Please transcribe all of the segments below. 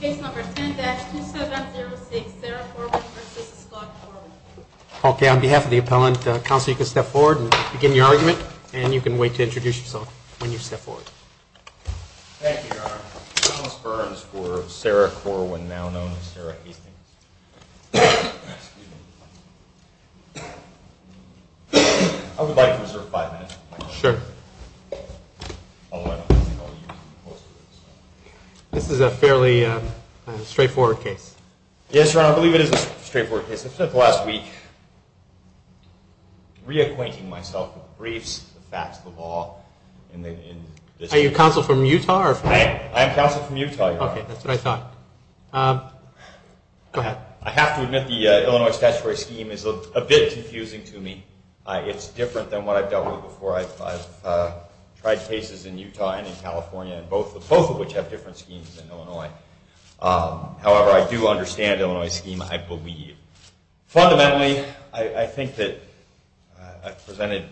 Case number 10-2706, Sarah Corwin v. Scott Corwin. Okay, on behalf of the appellant, counsel, you can step forward and begin your argument, and you can wait to introduce yourself when you step forward. Thank you, Your Honor. Thomas Burns for Sarah Corwin, now known as Sarah Hastings. Excuse me. I would like to reserve five minutes. Sure. I'll let him tell you most of it. This is a fairly straightforward case. Yes, Your Honor, I believe it is a straightforward case. I've spent the last week reacquainting myself with briefs, the facts of the law, and the... Are you counsel from Utah or from... I am counsel from Utah, Your Honor. Okay, that's what I thought. Go ahead. I have to admit the Illinois statutory scheme is a bit confusing to me. It's different than what I've dealt with before. I've tried cases in Utah and in California, both of which have different schemes than Illinois. However, I do understand Illinois' scheme, I believe. Fundamentally, I think that I've presented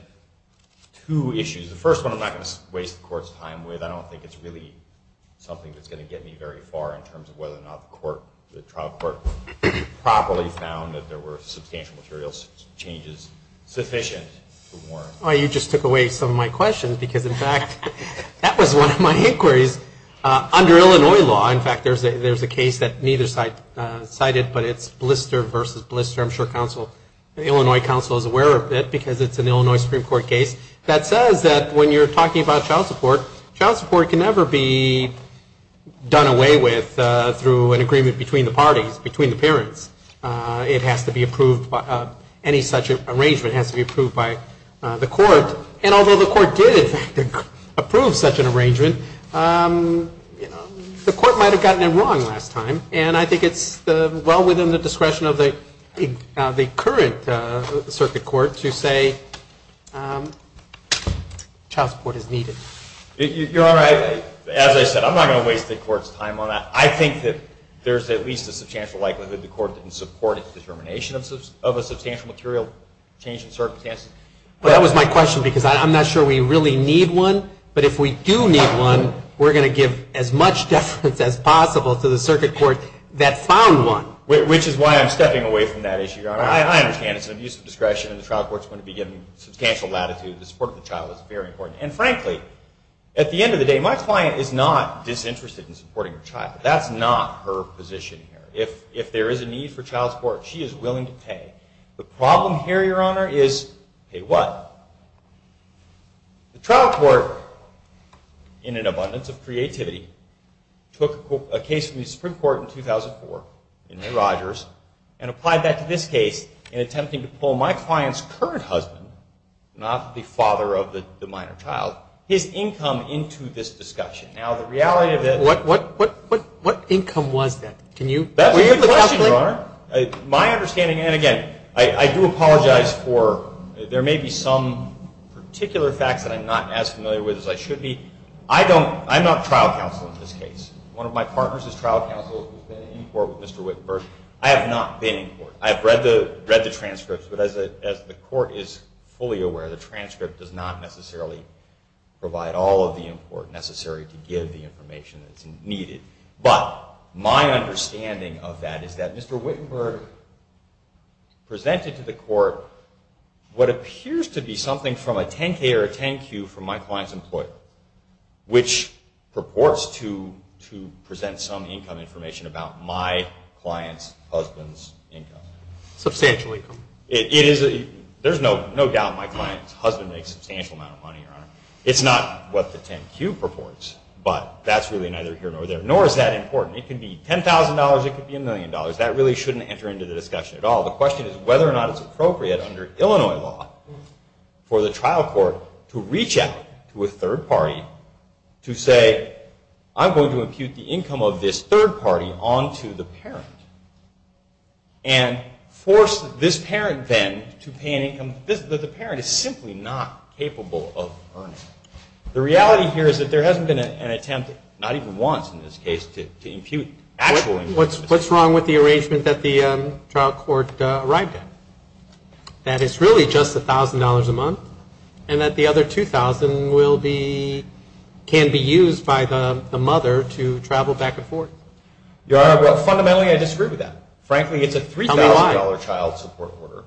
two issues. The first one I'm not going to waste the court's time with. I don't think it's really something that's going to get me very far in terms of whether or not the trial court properly found that there were substantial material changes sufficient to warrant... Oh, you just took away some of my questions because, in fact, that was one of my inquiries. Under Illinois law, in fact, there's a case that neither side cited, but it's Blister v. Blister. I'm sure the Illinois counsel is aware of it because it's an Illinois Supreme Court case that says that when you're talking about child support, child support can never be done away with through an agreement between the parties, between the parents. It has to be approved, any such arrangement has to be approved by the court. And although the court did, in fact, approve such an arrangement, the court might have gotten it wrong last time. And I think it's well within the discretion of the current circuit court to say child support is needed. You're all right. As I said, I'm not going to waste the court's time on that. I think that there's at least a substantial likelihood the court didn't support its determination of a substantial material change in circumstances. But that was my question because I'm not sure we really need one, but if we do need one, we're going to give as much deference as possible to the circuit court that found one. Which is why I'm stepping away from that issue, Your Honor. I understand it's an abuse of discretion and the trial court's going to be given substantial latitude. The support of the child is very important. And frankly, at the end of the day, my client is not disinterested in supporting her child. That's not her position here. If there is a need for child support, she is willing to pay. The problem here, Your Honor, is pay what? The trial court, in an abundance of creativity, took a case from the Supreme Court in 2004, in New Rogers, and applied that to this case in attempting to pull my client's current husband, not the father of the minor child, his income into this discussion. Now, the reality of it... What income was that? That's a good question, Your Honor. My understanding, and again, I do apologize for... There may be some particular facts that I'm not as familiar with as I should be. I'm not trial counsel in this case. One of my partners is trial counsel who's been in court with Mr. Wittenberg. I have not been in court. I have read the transcripts, but as the court is fully aware, the transcript does not necessarily provide all of the import necessary to give the information that's needed. But my understanding of that is that Mr. Wittenberg presented to the court what appears to be something from a 10-K or a 10-Q from my client's employer, which purports to present some income information about my client's husband's income. Substantial income. There's no doubt my client's husband makes a substantial amount of money, Your Honor. It's not what the 10-Q purports, but that's really neither here nor there. Nor is that important. It could be $10,000. It could be a million dollars. That really shouldn't enter into the discussion at all. The question is whether or not it's appropriate under Illinois law for the trial court to reach out to a third party to say, I'm going to impute the income of this third party onto the parent and force this parent then to pay an income that the parent is simply not capable of earning. The reality here is that there hasn't been an attempt, not even once in this case, to impute actual income. What's wrong with the arrangement that the trial court arrived at? That it's really just $1,000 a month, and that the other $2,000 can be used by the mother to travel back and forth? Your Honor, fundamentally I disagree with that. Frankly, it's a $3,000 child support order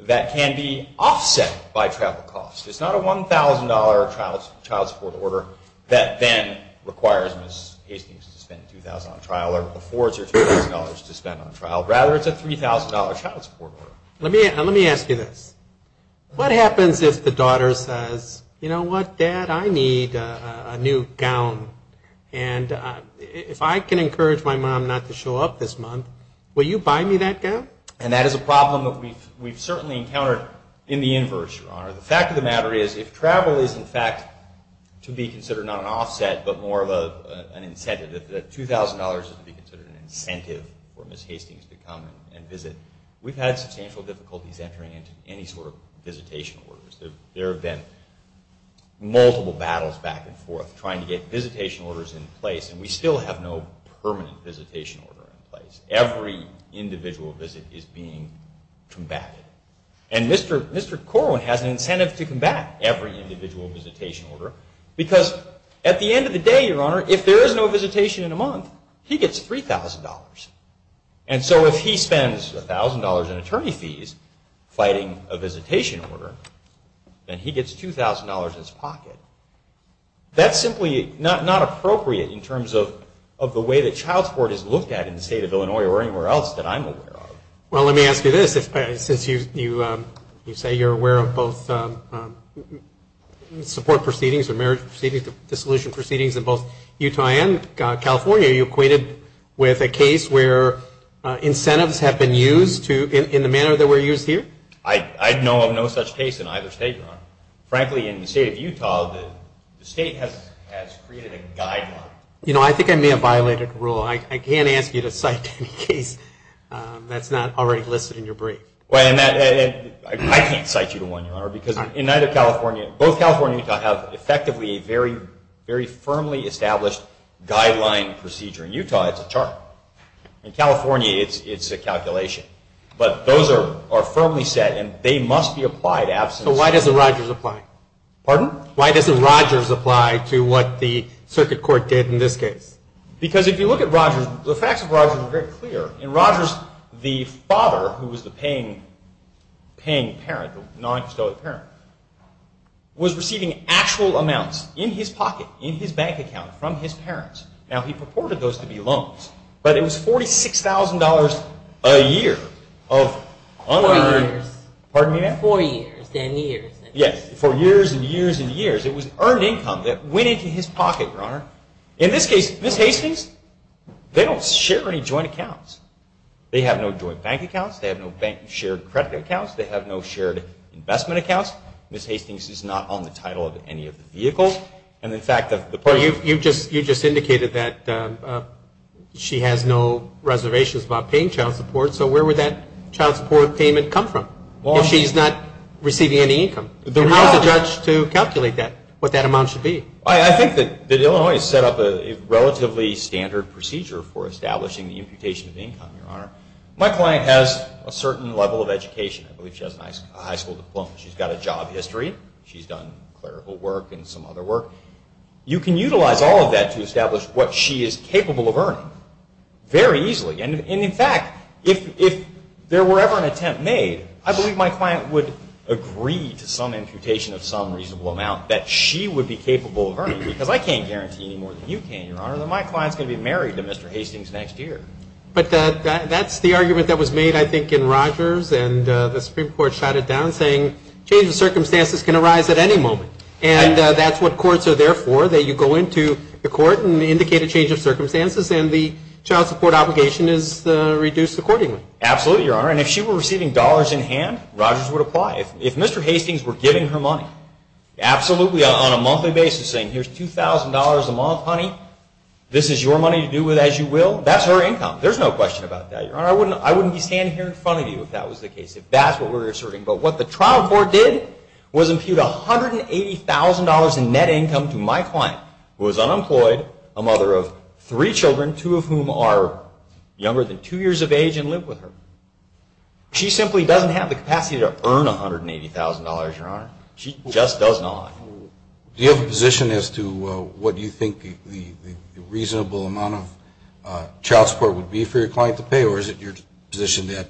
that can be offset by travel costs. It's not a $1,000 child support order that then requires Ms. Hastings to spend $2,000 on trial or affords her $2,000 to spend on trial. Rather, it's a $3,000 child support order. Let me ask you this. What happens if the daughter says, you know what, Dad, I need a new gown, and if I can encourage my mom not to show up this month, will you buy me that gown? And that is a problem that we've certainly encountered in the inverse, Your Honor. The fact of the matter is, if travel is in fact to be considered not an offset, but more of an incentive, that $2,000 is to be considered an incentive for Ms. Hastings to come and visit, we've had substantial difficulties entering into any sort of visitation orders. There have been multiple battles back and forth trying to get visitation orders in place, and we still have no permanent visitation order in place. Every individual visit is being combated. And Mr. Corwin has an incentive to combat every individual visitation order because at the end of the day, Your Honor, if there is no visitation in a month, he gets $3,000. And so if he spends $1,000 in attorney fees fighting a visitation order, then he gets $2,000 in his pocket. That's simply not appropriate in terms of the way that child support is looked at in the state of Illinois or anywhere else that I'm aware of. Well, let me ask you this. Since you say you're aware of both support proceedings and marriage proceedings, dissolution proceedings in both Utah and California, are you acquainted with a case where incentives have been used in the manner that were used here? I know of no such case in either state, Your Honor. Frankly, in the state of Utah, the state has created a guideline. You know, I think I may have violated the rule. I can't ask you to cite any case that's not already listed in your brief. I can't cite you to one, Your Honor, because in either California, both California and Utah have effectively a very firmly established guideline procedure. In Utah, it's a chart. In California, it's a calculation. But those are firmly set, and they must be applied. So why doesn't Rogers apply? Pardon? Why doesn't Rogers apply to what the circuit court did in this case? Because if you look at Rogers, the facts of Rogers are very clear. In Rogers, the father, who was the paying parent, the non-custodial parent, was receiving actual amounts in his pocket, in his bank account, from his parents. Now, he purported those to be loans, but it was $46,000 a year of unearned— Four years. Pardon me, ma'am? Four years, then years. Yes, for years and years and years. It was earned income that went into his pocket, Your Honor. In this case, Ms. Hastings, they don't share any joint accounts. They have no joint bank accounts. They have no shared credit accounts. They have no shared investment accounts. Ms. Hastings is not on the title of any of the vehicles. And, in fact, the point— You just indicated that she has no reservations about paying child support, so where would that child support payment come from if she's not receiving any income? And how is a judge to calculate that, what that amount should be? I think that Illinois has set up a relatively standard procedure for establishing the imputation of income, Your Honor. My client has a certain level of education. I believe she has a high school diploma. She's got a job history. She's done clerical work and some other work. You can utilize all of that to establish what she is capable of earning very easily. And, in fact, if there were ever an attempt made, I believe my client would agree to some imputation of some reasonable amount that she would be capable of earning because I can't guarantee any more than you can, Your Honor, that my client is going to be married to Mr. Hastings next year. But that's the argument that was made, I think, in Rogers, and the Supreme Court shot it down saying change of circumstances can arise at any moment. And that's what courts are there for, that you go into the court and indicate a change of circumstances and the child support obligation is reduced accordingly. Absolutely, Your Honor. And if she were receiving dollars in hand, Rogers would apply. If Mr. Hastings were giving her money, absolutely, on a monthly basis, saying here's $2,000 a month, honey, this is your money to do with as you will, that's her income. There's no question about that, Your Honor. I wouldn't be standing here in front of you if that was the case, if that's what we're asserting. But what the trial court did was impute $180,000 in net income to my client, who is unemployed, a mother of three children, two of whom are younger than two years of age and live with her. She simply doesn't have the capacity to earn $180,000, Your Honor. She just does not. Do you have a position as to what you think the reasonable amount of child support would be for your client to pay or is it your position that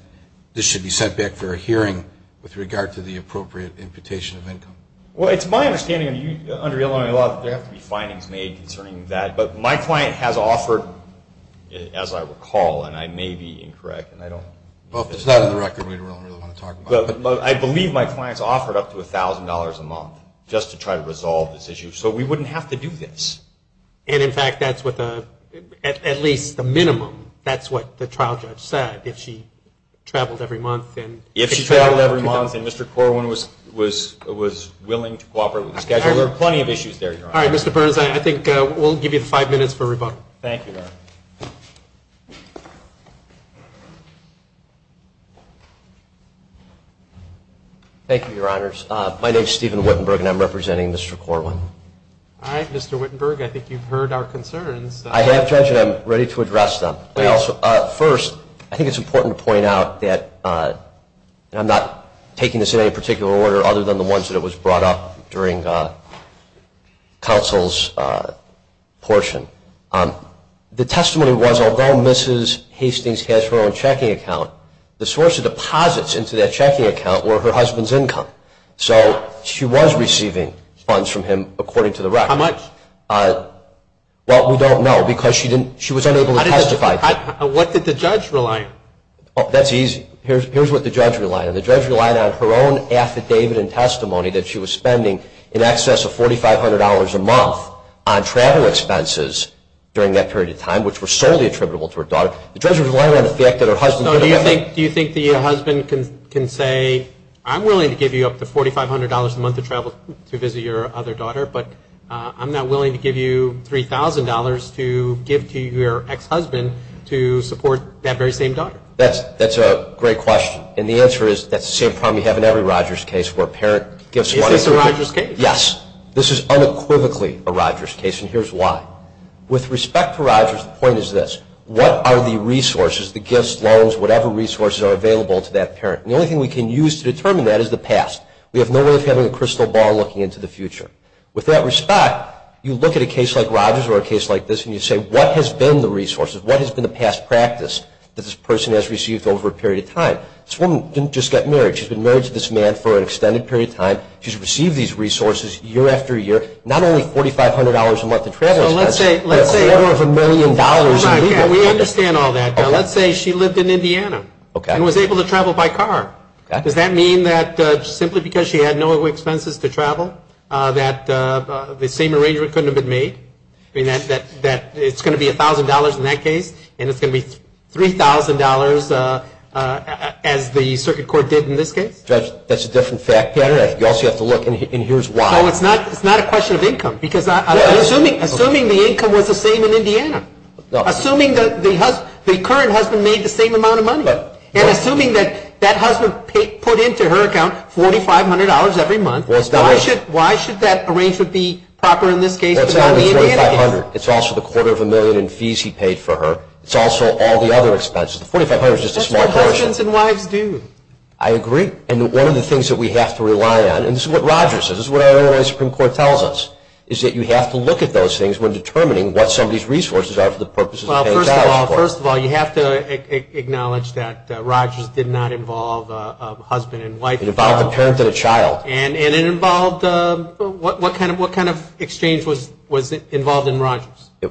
this should be sent back for a hearing with regard to the appropriate imputation of income? Well, it's my understanding, under Illinois law, that there have to be findings made concerning that. But my client has offered, as I recall, and I may be incorrect and I don't. Well, if it's not in the record, we don't really want to talk about it. I believe my client's offered up to $1,000 a month just to try to resolve this issue. So we wouldn't have to do this. And, in fact, that's what the, at least the minimum, that's what the trial judge said, if she traveled every month. If she traveled every month and Mr. Corwin was willing to cooperate with the schedule, there are plenty of issues there, Your Honor. All right, Mr. Burns, I think we'll give you five minutes for rebuttal. Thank you, Your Honor. Thank you, Your Honors. My name is Steven Wittenberg and I'm representing Mr. Corwin. All right, Mr. Wittenberg, I think you've heard our concerns. I have, Judge, and I'm ready to address them. First, I think it's important to point out that I'm not taking this in any particular order other than the ones that was brought up during counsel's portion. The testimony was, although Mrs. Hastings has her own checking account, the source of deposits into that checking account were her husband's income. So she was receiving funds from him, according to the record. How much? Well, we don't know because she was unable to testify. What did the judge rely on? That's easy. Here's what the judge relied on. The judge relied on her own affidavit and testimony that she was spending in excess of $4,500 a month on travel expenses during that period of time, which were solely attributable to her daughter. The judge relied on the fact that her husband could have been. Do you think the husband can say, I'm willing to give you up to $4,500 a month to travel to visit your other daughter, but I'm not willing to give you $3,000 to give to your ex-husband to support that very same daughter? That's a great question. And the answer is that's the same problem you have in every Rogers case where a parent gives money. If it's a Rogers case? Yes. This is unequivocally a Rogers case, and here's why. With respect to Rogers, the point is this. What are the resources, the gifts, loans, whatever resources are available to that parent? And the only thing we can use to determine that is the past. We have no way of having a crystal ball looking into the future. With that respect, you look at a case like Rogers or a case like this, and you say, what has been the resources? What has been the past practice that this person has received over a period of time? This woman didn't just get married. She's been married to this man for an extended period of time. She's received these resources year after year. Not only $4,500 a month to travel expense, but a quarter of a million dollars in legal. We understand all that. Let's say she lived in Indiana and was able to travel by car. Does that mean that simply because she had no expenses to travel, that the same arrangement couldn't have been made? I mean, it's going to be $1,000 in that case, and it's going to be $3,000 as the circuit court did in this case? Judge, that's a different fact pattern. You also have to look, and here's why. So it's not a question of income, because assuming the income was the same in Indiana, assuming the current husband made the same amount of money, and assuming that that husband put into her account $4,500 every month, why should that arrangement be proper in this case? It's not only $4,500. It's also the quarter of a million in fees he paid for her. It's also all the other expenses. $4,500 is just a small portion. That's what husbands and wives do. I agree. And one of the things that we have to rely on, and this is what Rogers says, this is what our Illinois Supreme Court tells us, is that you have to look at those things when determining what somebody's resources are for the purposes of paying child support. Well, first of all, you have to acknowledge that Rogers did not involve a husband and wife. It involved a parent and a child. And it involved what kind of exchange was involved in Rogers? The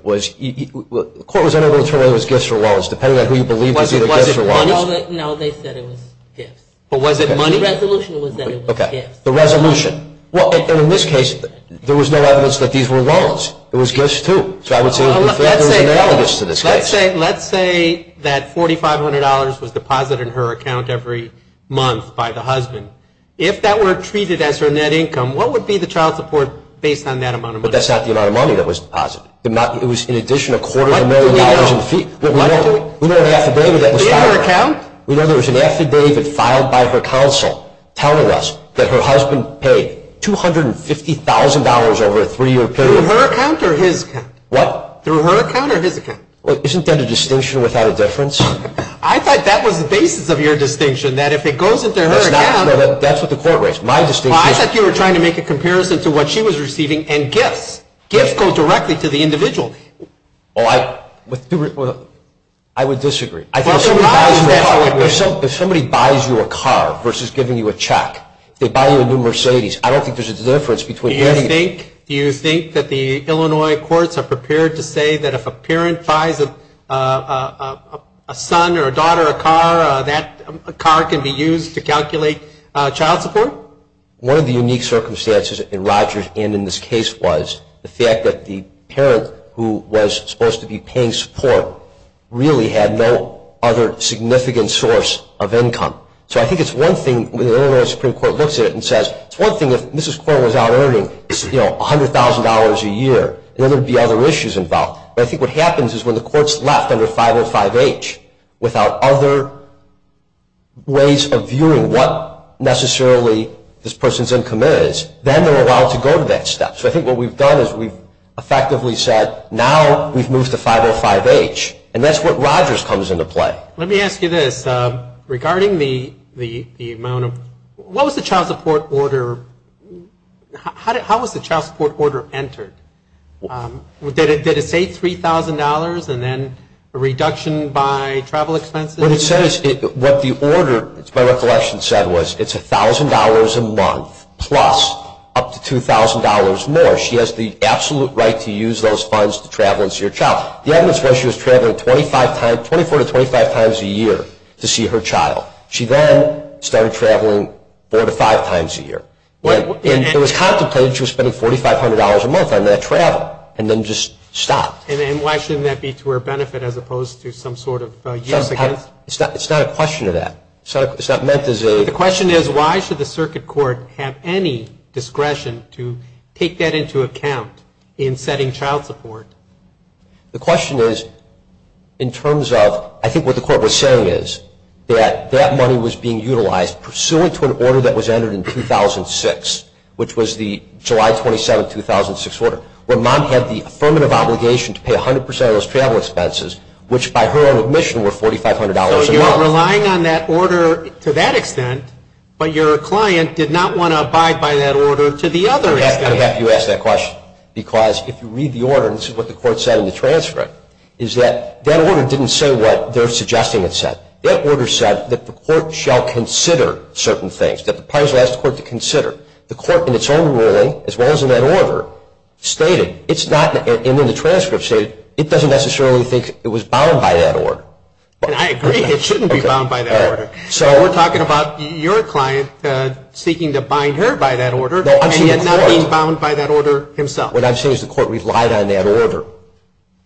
court was unable to determine whether it was gifts or wallets, depending on who you believe was either gifts or wallets. No, they said it was gifts. But was it money? The resolution was that it was gifts. The resolution. Well, in this case, there was no evidence that these were wallets. It was gifts, too. So I would say there was analogous to this case. Let's say that $4,500 was deposited in her account every month by the husband. If that were treated as her net income, what would be the child support based on that amount of money? But that's not the amount of money that was deposited. It was, in addition, a quarter of a million dollars in fees. What do we know? We know an affidavit that was filed. Through her account? We know there was an affidavit filed by her counsel telling us that her husband paid $250,000 over a three-year period. Through her account or his account? What? Through her account or his account? Well, isn't that a distinction without a difference? I thought that was the basis of your distinction, that if it goes into her account. No, that's what the court raised. My distinction is. Well, I thought you were trying to make a comparison to what she was receiving and gifts. Gifts go directly to the individual. Well, I would disagree. If somebody buys you a car versus giving you a check, if they buy you a new Mercedes, I don't think there's a difference between any of them. Do you think that the Illinois courts are prepared to say that if a parent buys a son or a daughter a car, that car can be used to calculate child support? One of the unique circumstances in Rogers and in this case was the fact that the parent who was supposed to be paying support really had no other significant source of income. So I think it's one thing when the Illinois Supreme Court looks at it and says, it's one thing if Mrs. Coyle was out earning $100,000 a year. Then there would be other issues involved. But I think what happens is when the court's left under 505H without other ways of viewing what necessarily this person's income is, then they're allowed to go to that step. So I think what we've done is we've effectively said, now we've moved to 505H. And that's what Rogers comes into play. Let me ask you this. Regarding the amount of, what was the child support order, how was the child support order entered? Did it say $3,000 and then a reduction by travel expenses? What it says, what the order, by recollection, said was it's $1,000 a month plus up to $2,000 more. She has the absolute right to use those funds to travel and see her child. The evidence was she was traveling 24 to 25 times a year to see her child. She then started traveling four to five times a year. It was contemplated she was spending $4,500 a month on that travel and then just stopped. And why shouldn't that be to her benefit as opposed to some sort of use against? It's not a question of that. It's not meant as a – The question is why should the circuit court have any discretion to take that into account in setting child support? The question is in terms of, I think what the court was saying is that that money was being utilized pursuant to an order that was entered in 2006, which was the July 27, 2006 order, where mom had the affirmative obligation to pay 100% of those travel expenses, which by her own admission were $4,500 a month. So you were relying on that order to that extent, but your client did not want to abide by that order to the other extent. You asked that question because if you read the order, and this is what the court said in the transcript, is that that order didn't say what they're suggesting it said. That order said that the court shall consider certain things, that the parties asked the court to consider. The court in its own ruling, as well as in that order, stated it's not – and in the transcript stated it doesn't necessarily think it was bound by that order. And I agree it shouldn't be bound by that order. So we're talking about your client seeking to bind her by that order, and yet not being bound by that order himself. What I'm saying is the court relied on that order.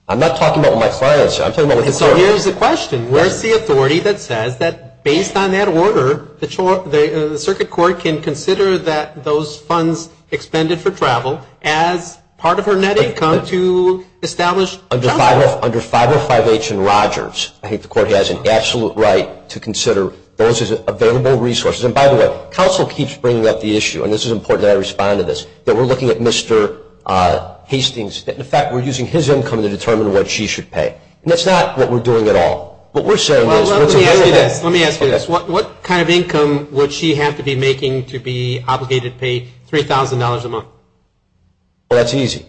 I'm not talking about my client, I'm talking about the court. So here's the question. Where's the authority that says that based on that order, the circuit court can consider that those funds expended for travel as part of her net income to establish child support? Under 505H and Rogers, I think the court has an absolute right to consider those as available resources. And by the way, counsel keeps bringing up the issue, and this is important that I respond to this, that we're looking at Mr. Hastings. In fact, we're using his income to determine what she should pay. And that's not what we're doing at all. What we're saying is – Well, let me ask you this. Let me ask you this. What kind of income would she have to be making to be obligated to pay $3,000 a month? Well, that's easy.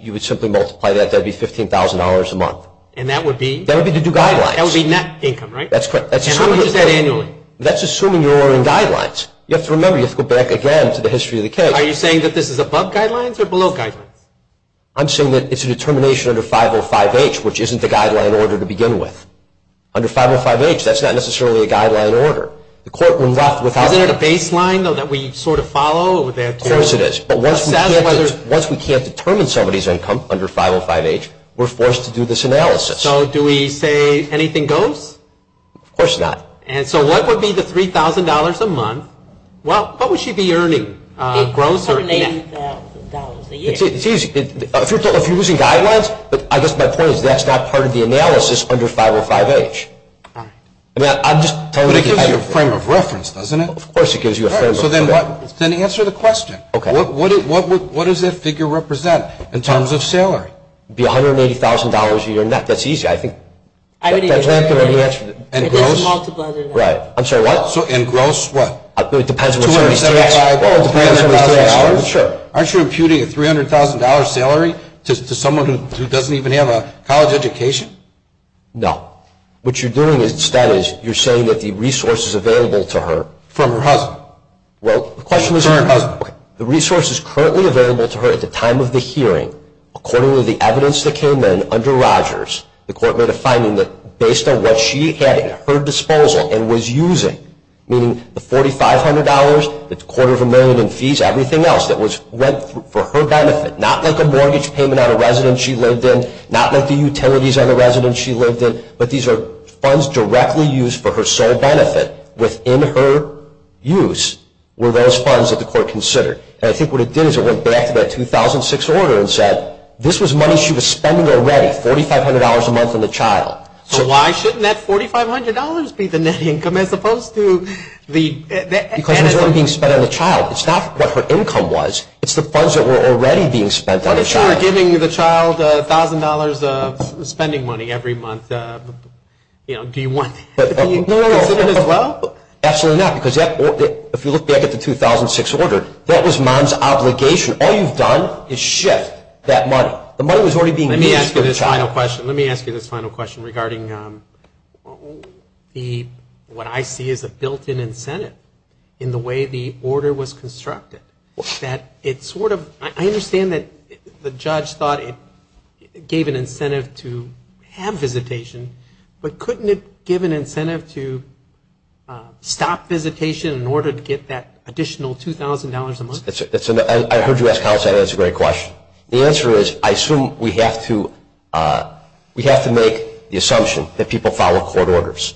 You would simply multiply that. That would be $15,000 a month. And that would be? That would be to do guidelines. That would be net income, right? That's correct. And how much is that annually? That's assuming you're in guidelines. You have to remember, you have to go back again to the history of the case. Are you saying that this is above guidelines or below guidelines? I'm saying that it's a determination under 505H, which isn't the guideline order to begin with. Under 505H, that's not necessarily a guideline order. The court would not, without – Isn't it a baseline, though, that we sort of follow? Of course it is. But once we can't determine somebody's income under 505H, we're forced to do this analysis. So do we say anything goes? Of course not. And so what would be the $3,000 a month? Well, what would she be earning gross or net? $380,000 a year. It's easy. If you're using guidelines, I guess my point is that's not part of the analysis under 505H. All right. But it gives you a frame of reference, doesn't it? Of course it gives you a frame of reference. All right. So then answer the question. Okay. What does that figure represent in terms of salary? It would be $180,000 a year net. That's easy, I think. And gross? Right. I'm sorry, what? And gross, what? Well, it depends on the state. Well, it depends on the state. Well, sure. Aren't you imputing a $300,000 salary to someone who doesn't even have a college education? No. What you're doing instead is you're saying that the resources available to her – From her husband. Well, the question was – Okay. The resources currently available to her at the time of the hearing, according to the evidence that came in under Rogers, the court made a finding that based on what she had at her disposal and was using, meaning the $4,500, the quarter of a million in fees, everything else that went for her benefit, not like a mortgage payment on a residence she lived in, not like the utilities on the residence she lived in, but these are funds directly used for her sole benefit. Within her use were those funds that the court considered. And I think what it did is it went back to that 2006 order and said this was money she was spending already, $4,500 a month on the child. So why shouldn't that $4,500 be the net income as opposed to the – Because it was already being spent on the child. It's not what her income was. It's the funds that were already being spent on the child. But if you were giving the child $1,000 of spending money every month, do you want that to be included as well? Absolutely not, because if you look back at the 2006 order, that was mom's obligation. All you've done is shift that money. The money was already being used for the child. Let me ask you this final question. Let me ask you this final question regarding what I see as a built-in incentive in the way the order was constructed. I understand that the judge thought it gave an incentive to have visitation, but couldn't it give an incentive to stop visitation in order to get that additional $2,000 a month? I heard you ask how, so that's a great question. The answer is I assume we have to make the assumption that people follow court orders.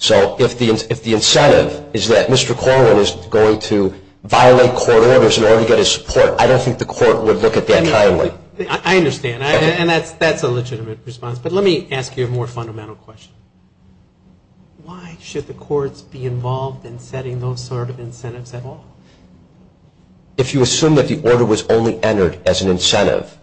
So if the incentive is that Mr. Corwin is going to violate court orders in order to get his support, I don't think the court would look at that kindly. I understand, and that's a legitimate response. But let me ask you a more fundamental question. Why should the courts be involved in setting those sort of incentives at all? If you assume that the order was only entered as an incentive,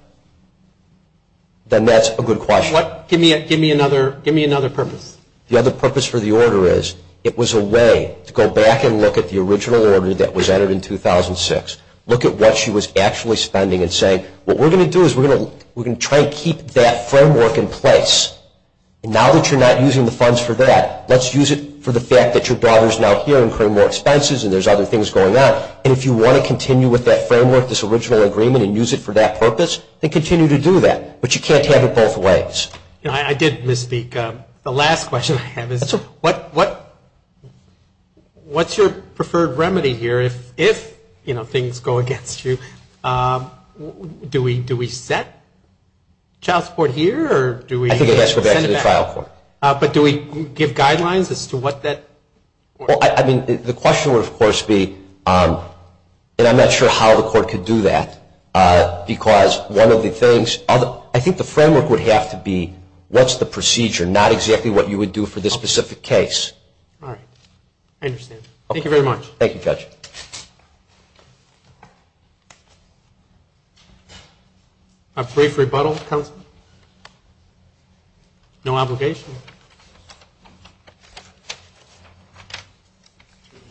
then that's a good question. Give me another purpose. The other purpose for the order is it was a way to go back and look at the original order that was entered in 2006, look at what she was actually spending and say, what we're going to do is we're going to try to keep that framework in place. Now that you're not using the funds for that, let's use it for the fact that your daughter is now here incurring more expenses and there's other things going on. And if you want to continue with that framework, this original agreement, and use it for that purpose, then continue to do that. But you can't have it both ways. I did misspeak. The last question I have is what's your preferred remedy here if things go against you? Do we set child support here or do we send it back? I think it has to go back to the trial court. But do we give guidelines as to what that? The question would, of course, be, and I'm not sure how the court could do that, because one of the things, I think the framework would have to be what's the procedure, not exactly what you would do for this specific case. All right. I understand. Thank you very much. Thank you, Judge. A brief rebuttal, counsel? No obligation?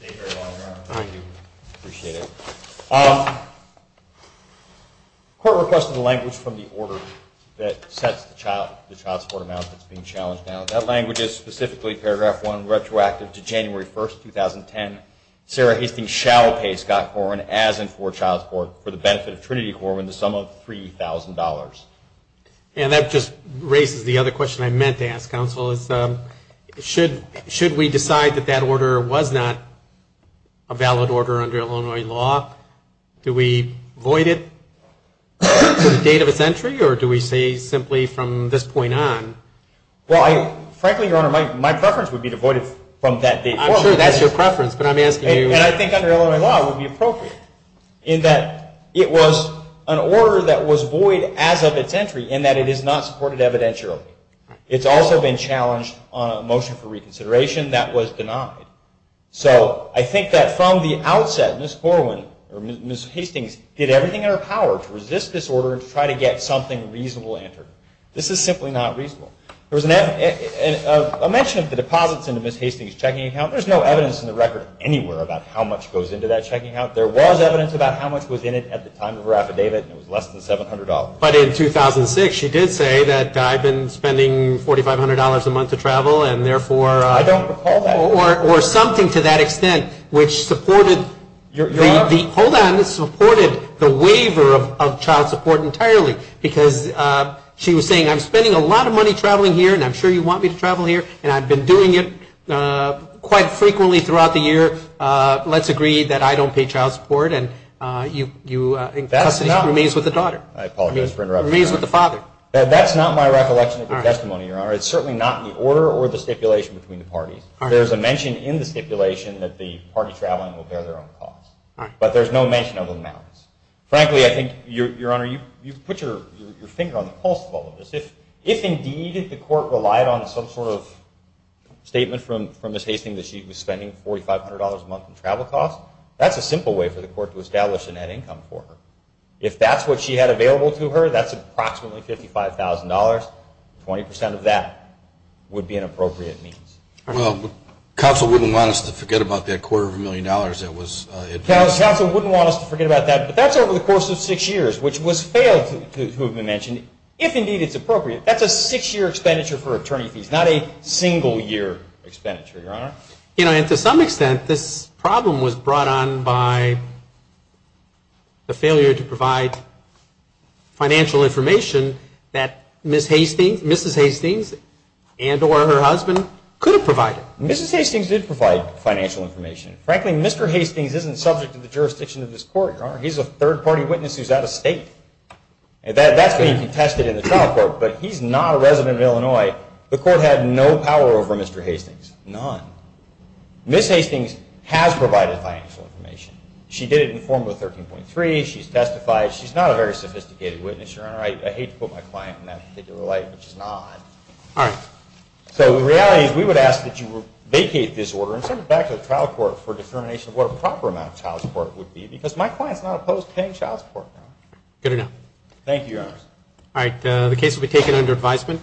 Thank you. Thank you very much, Your Honor. Thank you. Appreciate it. The court requested a language from the order that sets the child support amount that's being challenged now. That language is specifically paragraph 1, retroactive to January 1, 2010. Sarah Hastings shall pay Scott Corwin, as in for child support, for the benefit of Trinity Corwin, the sum of $3,000. And that just raises the other question I meant to ask, counsel, is should we decide that that order was not a valid order under Illinois law? Do we void it to the date of its entry, or do we say simply from this point on? Well, frankly, Your Honor, my preference would be to void it from that date. I'm sure that's your preference, but I'm asking you. I think under Illinois law it would be appropriate in that it was an order that was void as of its entry and that it is not supported evidentially. It's also been challenged on a motion for reconsideration that was denied. So I think that from the outset, Ms. Hastings did everything in her power to resist this order and to try to get something reasonable entered. This is simply not reasonable. There was a mention of the deposits in Ms. Hastings' checking account. There's no evidence in the record anywhere about how much goes into that checking account. There was evidence about how much was in it at the time of her affidavit, and it was less than $700. But in 2006, she did say that I've been spending $4,500 a month to travel, and therefore... I don't recall that. Or something to that extent, which supported the waiver of child support entirely, because she was saying I'm spending a lot of money traveling here, and I'm sure you want me to travel here, and I've been doing it quite frequently throughout the year. Let's agree that I don't pay child support, and custody remains with the daughter. Remains with the father. That's not my recollection of your testimony, Your Honor. It's certainly not in the order or the stipulation between the parties. There's a mention in the stipulation that the party traveling will bear their own costs. But there's no mention of amounts. Frankly, I think, Your Honor, you've put your finger on the pulse of all of this. If, indeed, the court relied on some sort of statement from Ms. Hastings that she was spending $4,500 a month in travel costs, that's a simple way for the court to establish a net income for her. If that's what she had available to her, that's approximately $55,000. Twenty percent of that would be an appropriate means. Well, counsel wouldn't want us to forget about that quarter of a million dollars that was... Counsel wouldn't want us to forget about that, but that's over the course of six years, which was failed to have been mentioned. If, indeed, it's appropriate, that's a six-year expenditure for attorney fees, not a single-year expenditure, Your Honor. You know, and to some extent, this problem was brought on by the failure to provide financial information that Ms. Hastings and or her husband could have provided. Mrs. Hastings did provide financial information. Frankly, Mr. Hastings isn't subject to the jurisdiction of this court, Your Honor. He's a third-party witness who's out of state. That's being contested in the trial court, but he's not a resident of Illinois. The court had no power over Mr. Hastings, none. Ms. Hastings has provided financial information. She did it in Form 13.3. She's testified. She's not a very sophisticated witness, Your Honor. I hate to put my client in that particular light, which she's not. So the reality is we would ask that you vacate this order and send it back to the trial court for determination of what a proper amount of child support would be because my client's not opposed to paying child support, Your Honor. Good enough. Thank you, Your Honor. All right, the case will be taken under advisement.